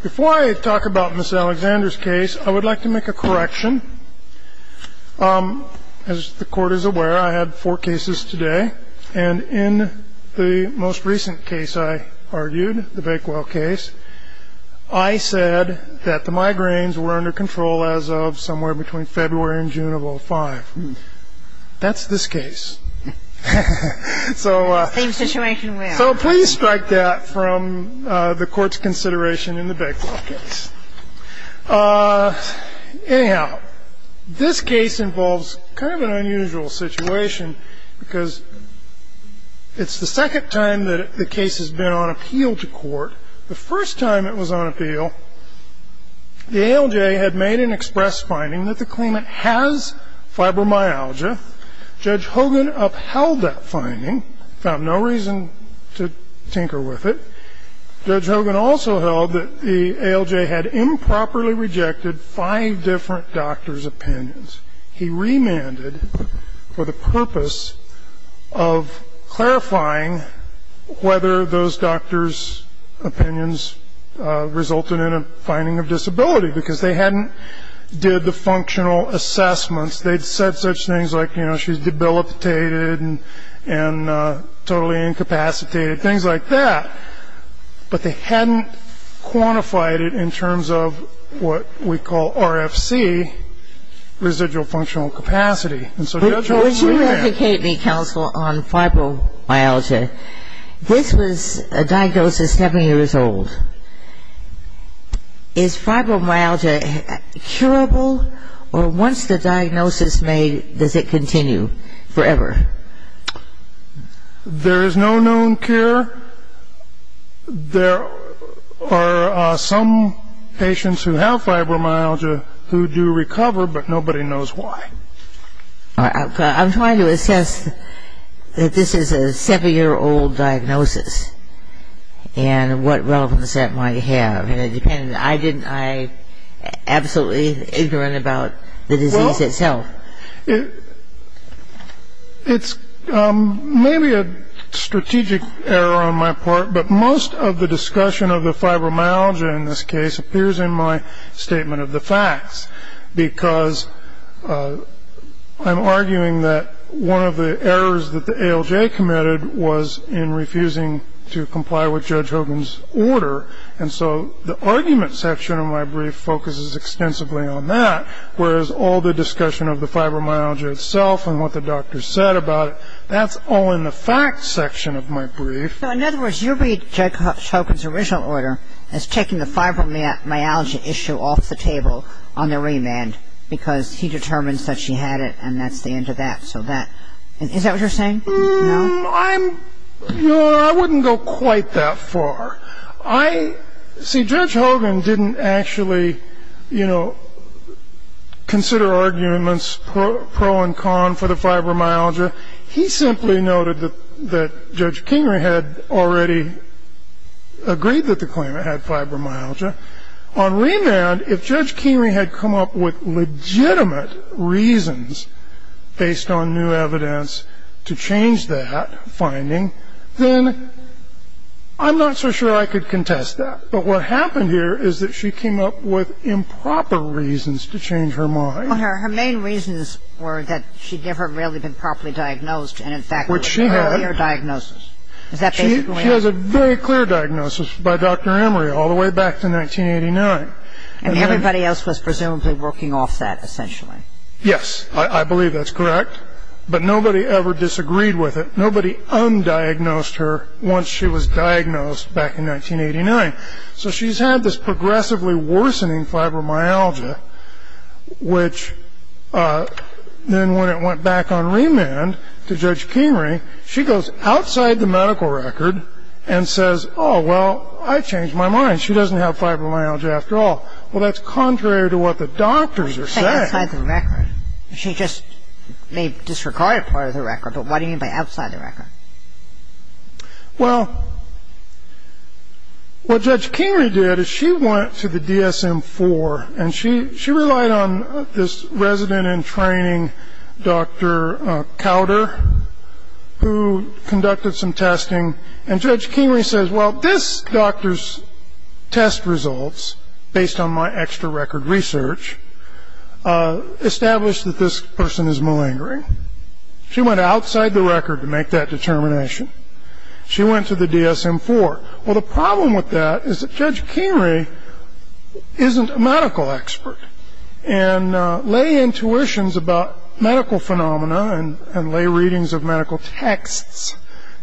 Before I talk about Ms. Alexander's case, I would like to make a correction. As the court is aware, I had four cases today, and in the most recent case I argued, the Bakewell case, I said that the migraines were under control as of somewhere between February and June of 2005. That's this case. So please strike that from the Court's consideration in the Bakewell case. Anyhow, this case involves kind of an unusual situation, because it's the second time that the case has been on appeal to court. The first time it was on appeal, the ALJ had made an express finding that the claimant has fibromyalgia. Judge Hogan upheld that finding, found no reason to tinker with it. Judge Hogan also held that the ALJ had improperly rejected five different doctors' opinions. He remanded for the purpose of clarifying whether those doctors' opinions resulted in a finding of disability, because they hadn't did the functional assessments. They'd said such things like, you know, she's debilitated and totally incapacitated, things like that. But they hadn't quantified it in terms of what we call RFC, residual functional capacity. And so Judge Hogan's remanded. Would you educate me, counsel, on fibromyalgia? This was a diagnosis seven years old. Is fibromyalgia curable, or once the diagnosis is made, does it continue forever? There is no known cure. There are some patients who have fibromyalgia who do recover, but nobody knows why. I'm trying to assess that this is a seven-year-old diagnosis, and what relevance that might have. And I didn't, I'm absolutely ignorant about the disease itself. Well, it's maybe a strategic error on my part, but most of the discussion of the fibromyalgia in this case appears in my statement of the facts, because I'm arguing that one of the errors that the ALJ committed was in refusing to comply with Judge Hogan's order. And so the argument section of my brief focuses extensively on that, whereas all the discussion of the fibromyalgia itself and what the doctor said about it, that's all in the facts section of my brief. So in other words, you read Judge Hogan's original order as taking the fibromyalgia issue off the table on the remand, because he determines that she had it, and that's the end of that. So that, is that what you're saying? No. I'm, you know, I wouldn't go quite that far. I, see, Judge Hogan didn't actually, you know, consider arguments pro and con for the fibromyalgia. He simply noted that Judge Kingrey had already agreed that the claimant had fibromyalgia. On remand, if Judge Kingrey had come up with legitimate reasons based on new evidence to change that finding, then I'm not so sure I could contest that. But what happened here is that she came up with improper reasons to change her mind. Well, her main reasons were that she'd never really been properly diagnosed, and in fact, it was an earlier diagnosis. She has a very clear diagnosis by Dr. Emery all the way back to 1989. And everybody else was presumably working off that, essentially. Yes, I believe that's correct. But nobody ever disagreed with it. Nobody undiagnosed her once she was diagnosed back in 1989. So she's had this progressively worsening fibromyalgia, which then when it went back on remand to Judge Kingrey, she goes outside the medical record and says, oh, well, I changed my mind. She doesn't have fibromyalgia after all. Well, that's contrary to what the doctors are saying. Outside the record? She just may disregard a part of the record, but what do you mean by outside the record? Well, what Judge Kingrey did is she went to the DSM-IV, and she relied on this resident-in-training Dr. Cowder, who conducted some testing. And Judge Kingrey says, well, this doctor's test results, based on my extra-record research, establish that this person is malingering. She went outside the record to make that determination. She went to the DSM-IV. Well, the problem with that is that Judge Kingrey isn't a medical expert, and lay intuitions about medical phenomena and lay readings of medical texts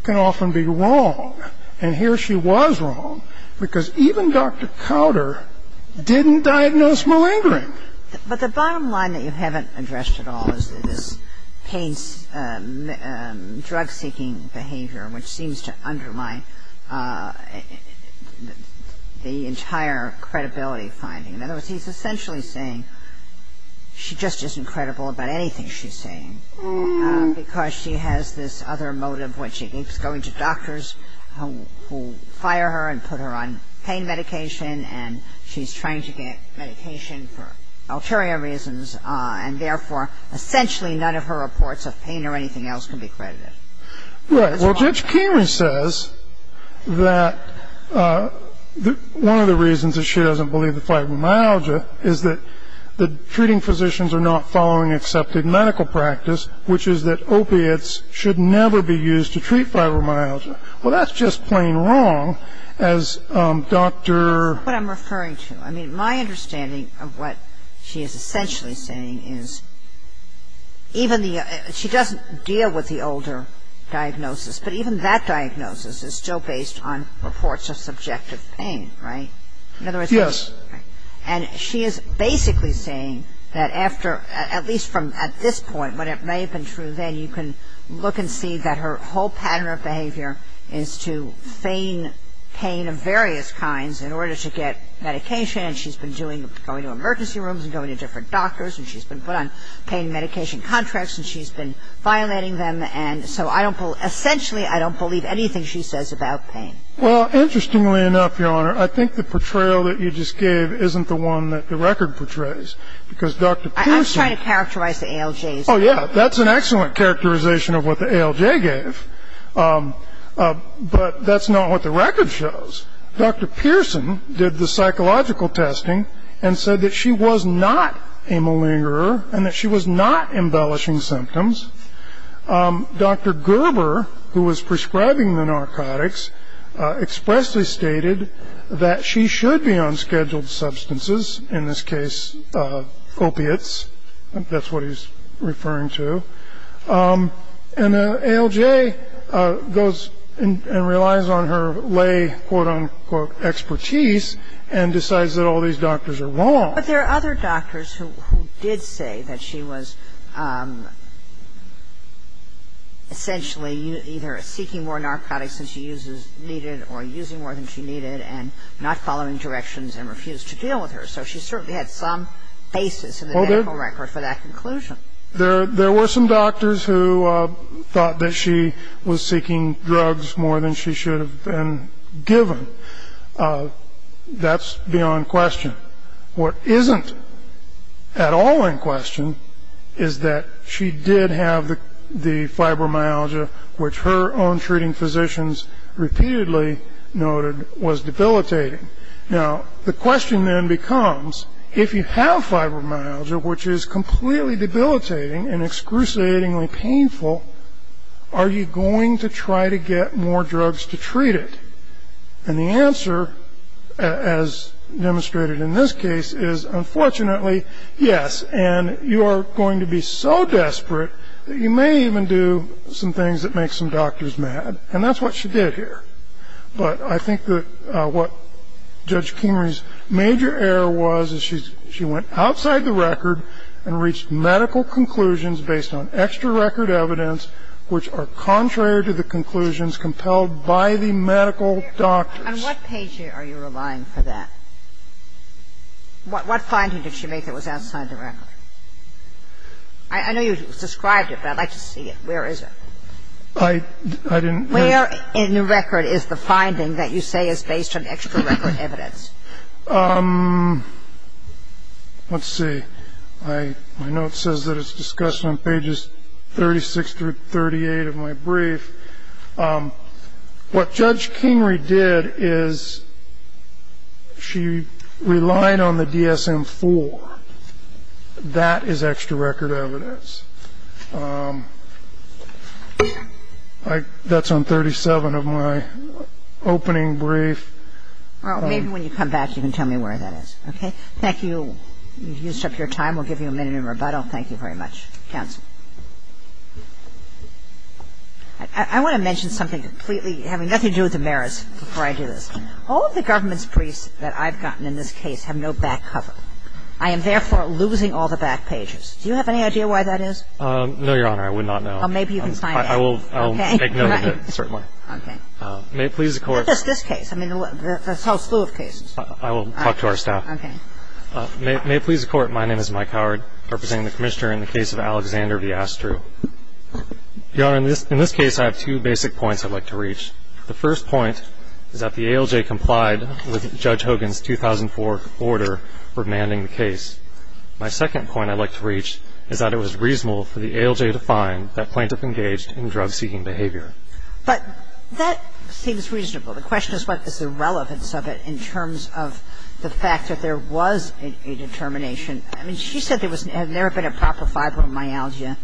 can often be wrong. And here she was wrong, because even Dr. Cowder didn't diagnose malingering. But the bottom line that you haven't addressed at all is this pain drug-seeking behavior, which seems to undermine the entire credibility finding. In other words, he's essentially saying she just isn't credible about anything she's saying, because she has this other motive, which is going to doctors who fire her and put her on pain medication, and she's trying to get medication for ulterior reasons, and therefore essentially none of her reports of pain or anything else can be credited. Right. Well, Judge Kingrey says that one of the reasons that she doesn't believe in fibromyalgia is that the treating physicians are not following accepted medical practice, which is that opiates should never be used to treat fibromyalgia. Well, that's just plain wrong, as Dr. That's what I'm referring to. I mean, my understanding of what she is essentially saying is she doesn't deal with the older diagnosis, but even that diagnosis is still based on reports of subjective pain, right? Yes. And she is basically saying that after, at least from this point, when it may have been true then, you can look and see that her whole pattern of behavior is to feign pain of various kinds in order to get medication, and she's been going to emergency rooms and going to different doctors, and she's been put on pain medication contracts, and she's been violating them, and so essentially I don't believe anything she says about pain. Well, interestingly enough, Your Honor, I think the portrayal that you just gave isn't the one that the record portrays, because Dr. I'm trying to characterize the ALJs. Oh, yeah, that's an excellent characterization of what the ALJ gave, but that's not what the record shows. Dr. Pearson did the psychological testing and said that she was not a malingerer and that she was not embellishing symptoms. Dr. Gerber, who was prescribing the narcotics, expressly stated that she should be on scheduled substances, in this case opiates. That's what he's referring to. And the ALJ goes and relies on her lay, quote-unquote, expertise and decides that all these doctors are wrong. But there are other doctors who did say that she was essentially either seeking more narcotics than she needed or using more than she needed and not following directions and refused to deal with her. So she certainly had some basis in the medical record for that conclusion. There were some doctors who thought that she was seeking drugs more than she should have been given. That's beyond question. What isn't at all in question is that she did have the fibromyalgia, which her own treating physicians repeatedly noted was debilitating. Now, the question then becomes, if you have fibromyalgia, which is completely debilitating and excruciatingly painful, are you going to try to get more drugs to treat it? And the answer, as demonstrated in this case, is, unfortunately, yes. And you are going to be so desperate that you may even do some things that make some doctors mad. And that's what she did here. But I think that what Judge Kimmerer's major error was is she went outside the record and reached medical conclusions based on extra record evidence which are contrary to the conclusions compelled by the medical doctors. On what page are you relying for that? What finding did she make that was outside the record? I know you described it, but I'd like to see it. Where is it? I didn't. Where in the record is the finding that you say is based on extra record evidence? Let's see. I know it says that it's discussed on pages 36 through 38 of my brief. What Judge Kingrey did is she relied on the DSM-IV. That is extra record evidence. That's on 37 of my opening brief. Well, maybe when you come back, you can tell me where that is. Okay? Thank you. You've used up your time. We'll give you a minute in rebuttal. Thank you very much. Counsel. I want to mention something completely having nothing to do with the merits before I do this. All of the government's briefs that I've gotten in this case have no back cover. I am, therefore, losing all the back pages. Do you have any idea why that is? No, Your Honor. I would not know. Well, maybe you can sign it. I will make note of it, certainly. Okay. May it please the Court. What is this case? I mean, there's a whole slew of cases. I will talk to our staff. Okay. May it please the Court, my name is Mike Howard, representing the Commissioner in the case of Alexander V. Astru. Your Honor, in this case, I have two basic points I'd like to reach. The first point is that the ALJ complied with Judge Hogan's 2004 order for demanding the case. My second point I'd like to reach is that it was reasonable for the ALJ to find that plaintiff engaged in drug-seeking behavior. But that seems reasonable. The question is what is the relevance of it in terms of the fact that there was a determination. I mean, she said there was never been a proper fibromyalgia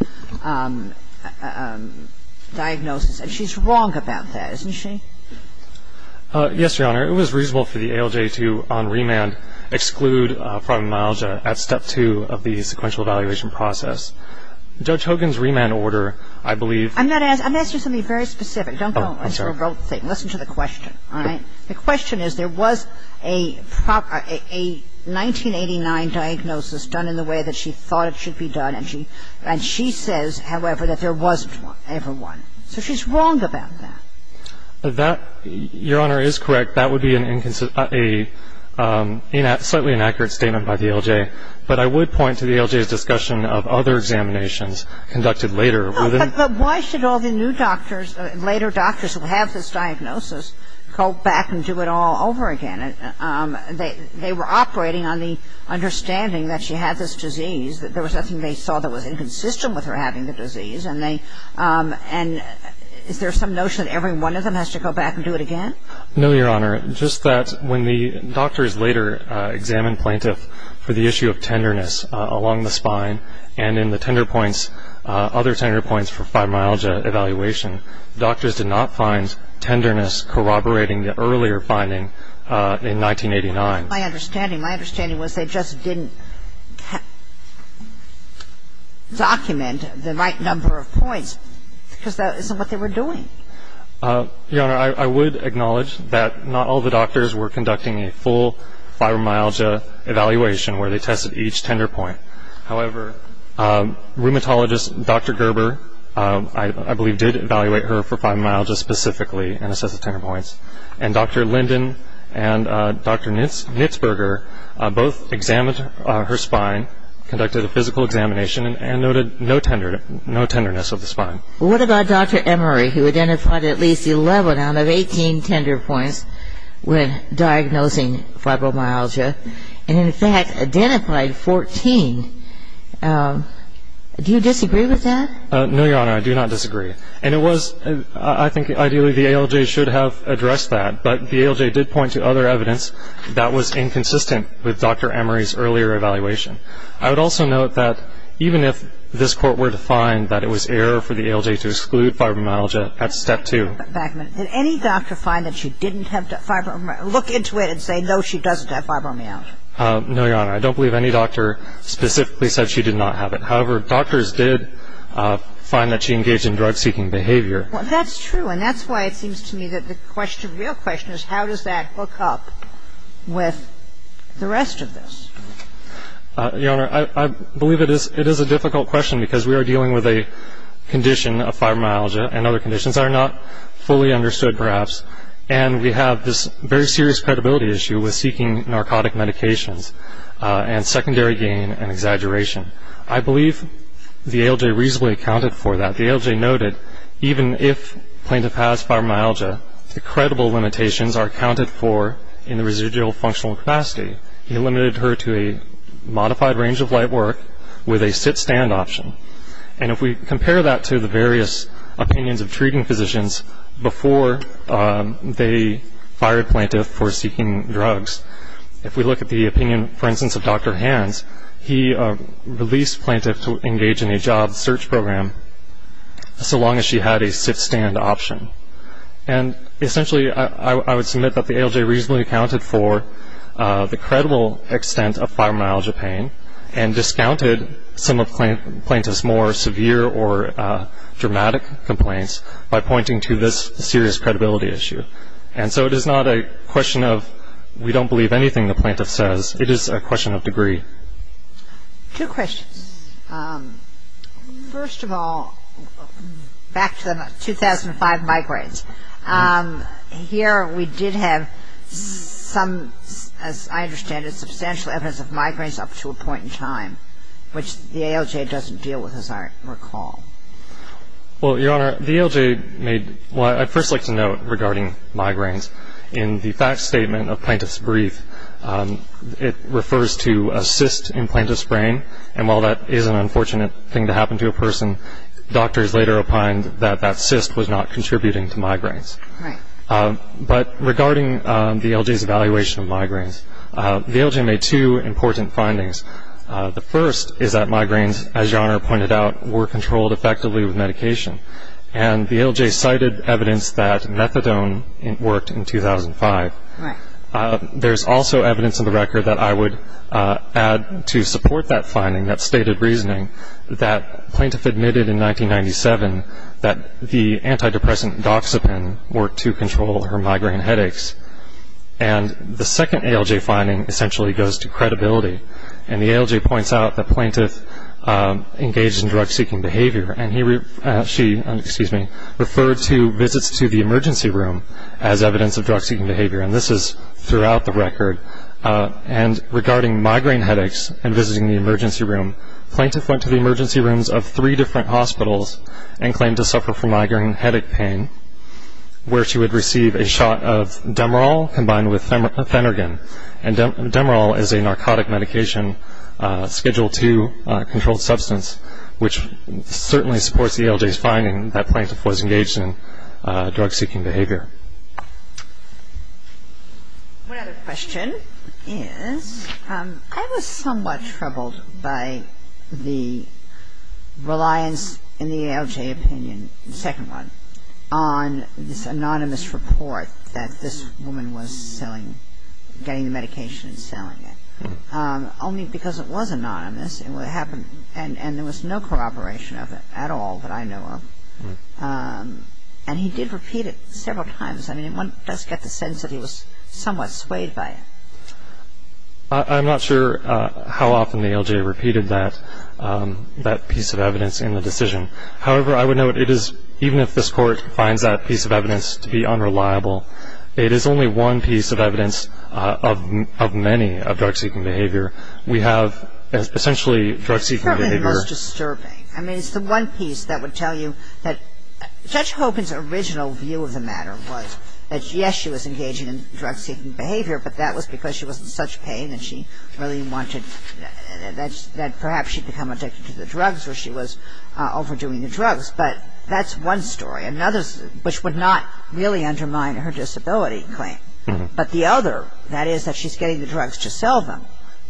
diagnosis, and she's wrong about that, isn't she? Yes, Your Honor. It was reasonable for the ALJ to, on remand, exclude fibromyalgia at Step 2 of the sequential evaluation process. Judge Hogan's remand order, I believe ---- I'm going to ask you something very specific. Oh, I'm sorry. Listen to the question. All right? The question is there was a proper 1989 diagnosis done in the way that she thought it should be done, and she says, however, that there wasn't one, ever one. So she's wrong about that. That, Your Honor, is correct. That would be a slightly inaccurate statement by the ALJ. But I would point to the ALJ's discussion of other examinations conducted later. But why should all the new doctors, later doctors who have this diagnosis, go back and do it all over again? They were operating on the understanding that she had this disease, that there was nothing they saw that was inconsistent with her having the disease. And is there some notion that every one of them has to go back and do it again? No, Your Honor. Just that when the doctors later examined plaintiff for the issue of tenderness along the spine and in the tender points, other tender points for fibromyalgia evaluation, doctors did not find tenderness corroborating the earlier finding in 1989. My understanding, my understanding was they just didn't document the right number of points because that isn't what they were doing. Your Honor, I would acknowledge that not all the doctors were conducting a full fibromyalgia evaluation where they tested each tender point. However, rheumatologist Dr. Gerber, I believe, did evaluate her for fibromyalgia specifically and Dr. Linden and Dr. Knitzberger both examined her spine, conducted a physical examination and noted no tenderness of the spine. What about Dr. Emery who identified at least 11 out of 18 tender points when diagnosing fibromyalgia and in fact identified 14? Do you disagree with that? No, Your Honor, I do not disagree. And it was, I think ideally the ALJ should have addressed that, but the ALJ did point to other evidence that was inconsistent with Dr. Emery's earlier evaluation. I would also note that even if this Court were to find that it was error for the ALJ to exclude fibromyalgia, that's step two. Backman, did any doctor find that she didn't have fibromyalgia? Look into it and say no, she doesn't have fibromyalgia. No, Your Honor, I don't believe any doctor specifically said she did not have it. However, doctors did find that she engaged in drug-seeking behavior. Well, that's true and that's why it seems to me that the question, the real question is how does that hook up with the rest of this? Your Honor, I believe it is a difficult question because we are dealing with a condition of fibromyalgia and other conditions that are not fully understood perhaps and we have this very serious credibility issue with seeking narcotic medications and secondary gain and exaggeration. I believe the ALJ reasonably accounted for that. The ALJ noted even if plaintiff has fibromyalgia, the credible limitations are accounted for in the residual functional capacity. He limited her to a modified range of light work with a sit-stand option. And if we compare that to the various opinions of treating physicians before they fired plaintiff for seeking drugs, if we look at the opinion, for instance, of Dr. Hands, he released plaintiff to engage in a job search program so long as she had a sit-stand option. And essentially I would submit that the ALJ reasonably accounted for the credible extent of fibromyalgia pain and discounted some of plaintiff's more severe or dramatic complaints by pointing to this serious credibility issue. And so it is not a question of we don't believe anything the plaintiff says. It is a question of degree. Two questions. First of all, back to the 2005 migraines. Here we did have some, as I understand it, substantial evidence of migraines up to a point in time, which the ALJ doesn't deal with as I recall. Well, Your Honor, the ALJ made, well, I'd first like to note regarding migraines, in the fact statement of plaintiff's brief, it refers to a cyst in plaintiff's brain. And while that is an unfortunate thing to happen to a person, doctors later opined that that cyst was not contributing to migraines. Right. But regarding the ALJ's evaluation of migraines, the ALJ made two important findings. The first is that migraines, as Your Honor pointed out, were controlled effectively with medication. And the ALJ cited evidence that methadone worked in 2005. Right. There's also evidence in the record that I would add to support that finding, that stated reasoning, that plaintiff admitted in 1997 that the antidepressant doxepin worked to control her migraine headaches. And the second ALJ finding essentially goes to credibility. And the ALJ points out that plaintiff engaged in drug-seeking behavior, and she referred to visits to the emergency room as evidence of drug-seeking behavior. And this is throughout the record. And regarding migraine headaches and visiting the emergency room, plaintiff went to the emergency rooms of three different hospitals and claimed to suffer from migraine headache pain, where she would receive a shot of Demerol combined with Phenergan. And Demerol is a narcotic medication scheduled to a controlled substance, which certainly supports the ALJ's finding that plaintiff was engaged in drug-seeking behavior. One other question is, I was somewhat troubled by the reliance in the ALJ opinion, the second one, on this anonymous report that this woman was getting the medication and selling it. Only because it was anonymous, and there was no corroboration of it at all that I know of. And he did repeat it several times. I mean, one does get the sense that he was somewhat swayed by it. I'm not sure how often the ALJ repeated that piece of evidence in the decision. However, I would note it is, even if this Court finds that piece of evidence to be unreliable, it is only one piece of evidence of many of drug-seeking behavior. We have essentially drug-seeking behavior. It's certainly the most disturbing. I mean, it's the one piece that would tell you that Judge Hogan's original view of the matter was that yes, she was engaging in drug-seeking behavior, but that was because she was in such pain that she really wanted, that perhaps she had become addicted to the drugs or she was overdoing the drugs. But that's one story. Another, which would not really undermine her disability claim. But the other, that is that she's getting the drugs to sell them,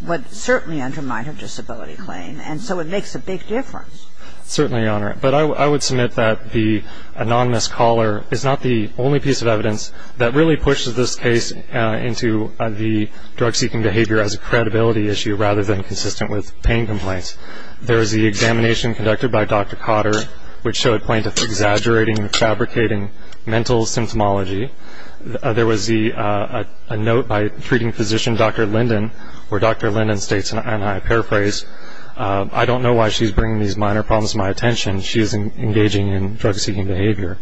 would certainly undermine her disability claim. And so it makes a big difference. Certainly, Your Honor. But I would submit that the anonymous caller is not the only piece of evidence that really pushes this case into the drug-seeking behavior as a credibility issue rather than consistent with pain complaints. There is the examination conducted by Dr. Cotter, which showed plaintiff exaggerating and fabricating mental symptomology. There was a note by treating physician Dr. Linden, where Dr. Linden states, and I paraphrase, I don't know why she's bringing these minor problems to my attention. She is engaging in drug-seeking behavior.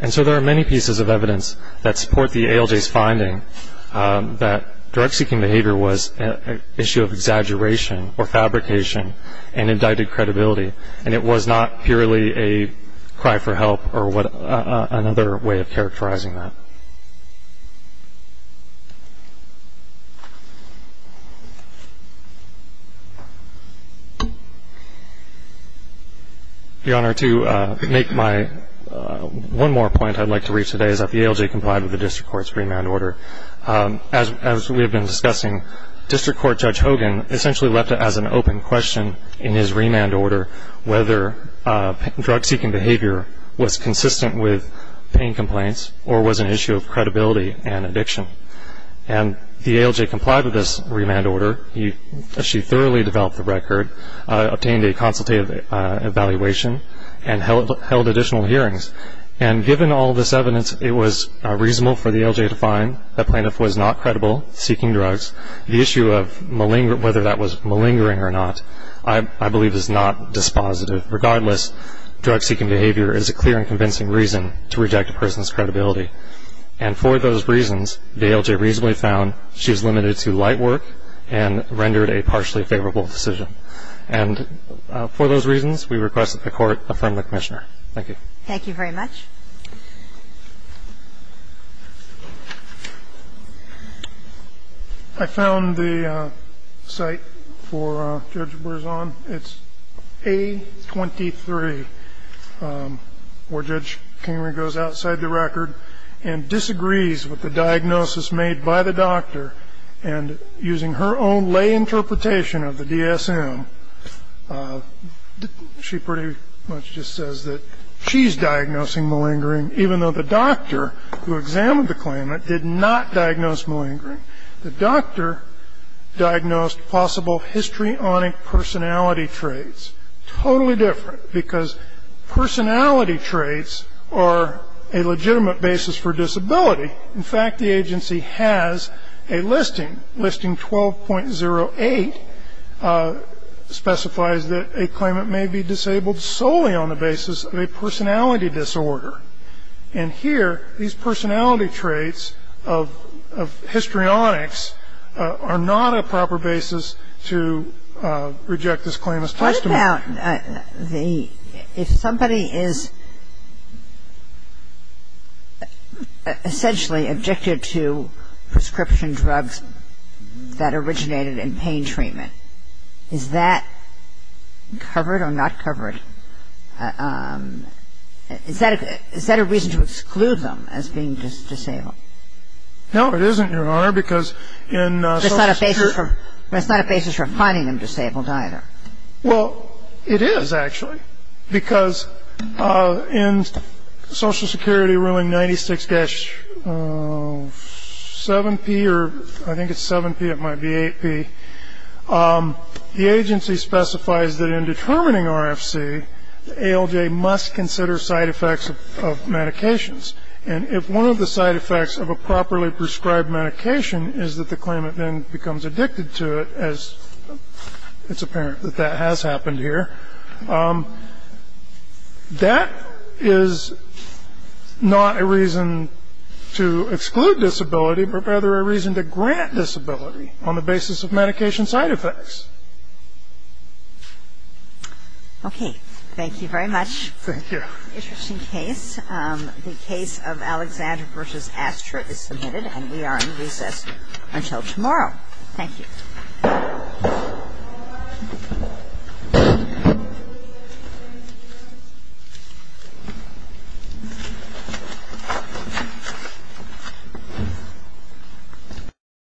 And so there are many pieces of evidence that support the ALJ's finding that drug-seeking behavior was an issue of exaggeration or fabrication and indicted credibility. And it was not purely a cry for help or another way of characterizing that. Your Honor, to make my one more point I'd like to reach today is that the ALJ complied with the District Court's remand order. As we have been discussing, District Court Judge Hogan essentially left it as an open question in his remand order whether drug-seeking behavior was consistent with pain complaints or was an issue of credibility and addiction. And the ALJ complied with this remand order. She thoroughly developed the record, obtained a consultative evaluation, and held additional hearings. And given all this evidence, it was reasonable for the ALJ to find that plaintiff was not credible seeking drugs. The issue of whether that was malingering or not I believe is not dispositive. Regardless, drug-seeking behavior is a clear and convincing reason to reject a person's credibility. And for those reasons, the ALJ reasonably found she was limited to light work and rendered a partially favorable decision. And for those reasons, we request that the Court affirm the commissioner. Thank you. Thank you very much. I found the site for Judge Berzon. It's A23, where Judge Kingery goes outside the record and disagrees with the diagnosis made by the doctor. And using her own lay interpretation of the DSM, she pretty much just says that she's diagnosing malingering, even though the doctor who examined the claimant did not diagnose malingering. The doctor diagnosed possible histrionic personality traits. Totally different, because personality traits are a legitimate basis for disability. In fact, the agency has a listing. Listing 12.08 specifies that a claimant may be disabled solely on the basis of a personality disorder. And here, these personality traits of histrionics are not a proper basis to reject this claimant's testimony. What about if somebody is essentially addicted to prescription drugs that originated in pain treatment? Is that covered or not covered? Is that a reason to exclude them as being disabled? No, it isn't, Your Honor, because in Social Security ---- But it's not a basis for finding them disabled either. Well, it is, actually, because in Social Security ruling 96-7P, or I think it's 7P, it might be 8P, the agency specifies that in determining RFC, ALJ must consider side effects of medications. And if one of the side effects of a properly prescribed medication is that the claimant then becomes addicted to it, as it's apparent that that has happened here, that is not a reason to exclude disability, but rather a reason to grant disability on the basis of medication side effects. Okay. Thank you very much. Thank you. Interesting case. The case of Alexander v. Astor is submitted, and we are in recess until tomorrow. Thank you. Thank you.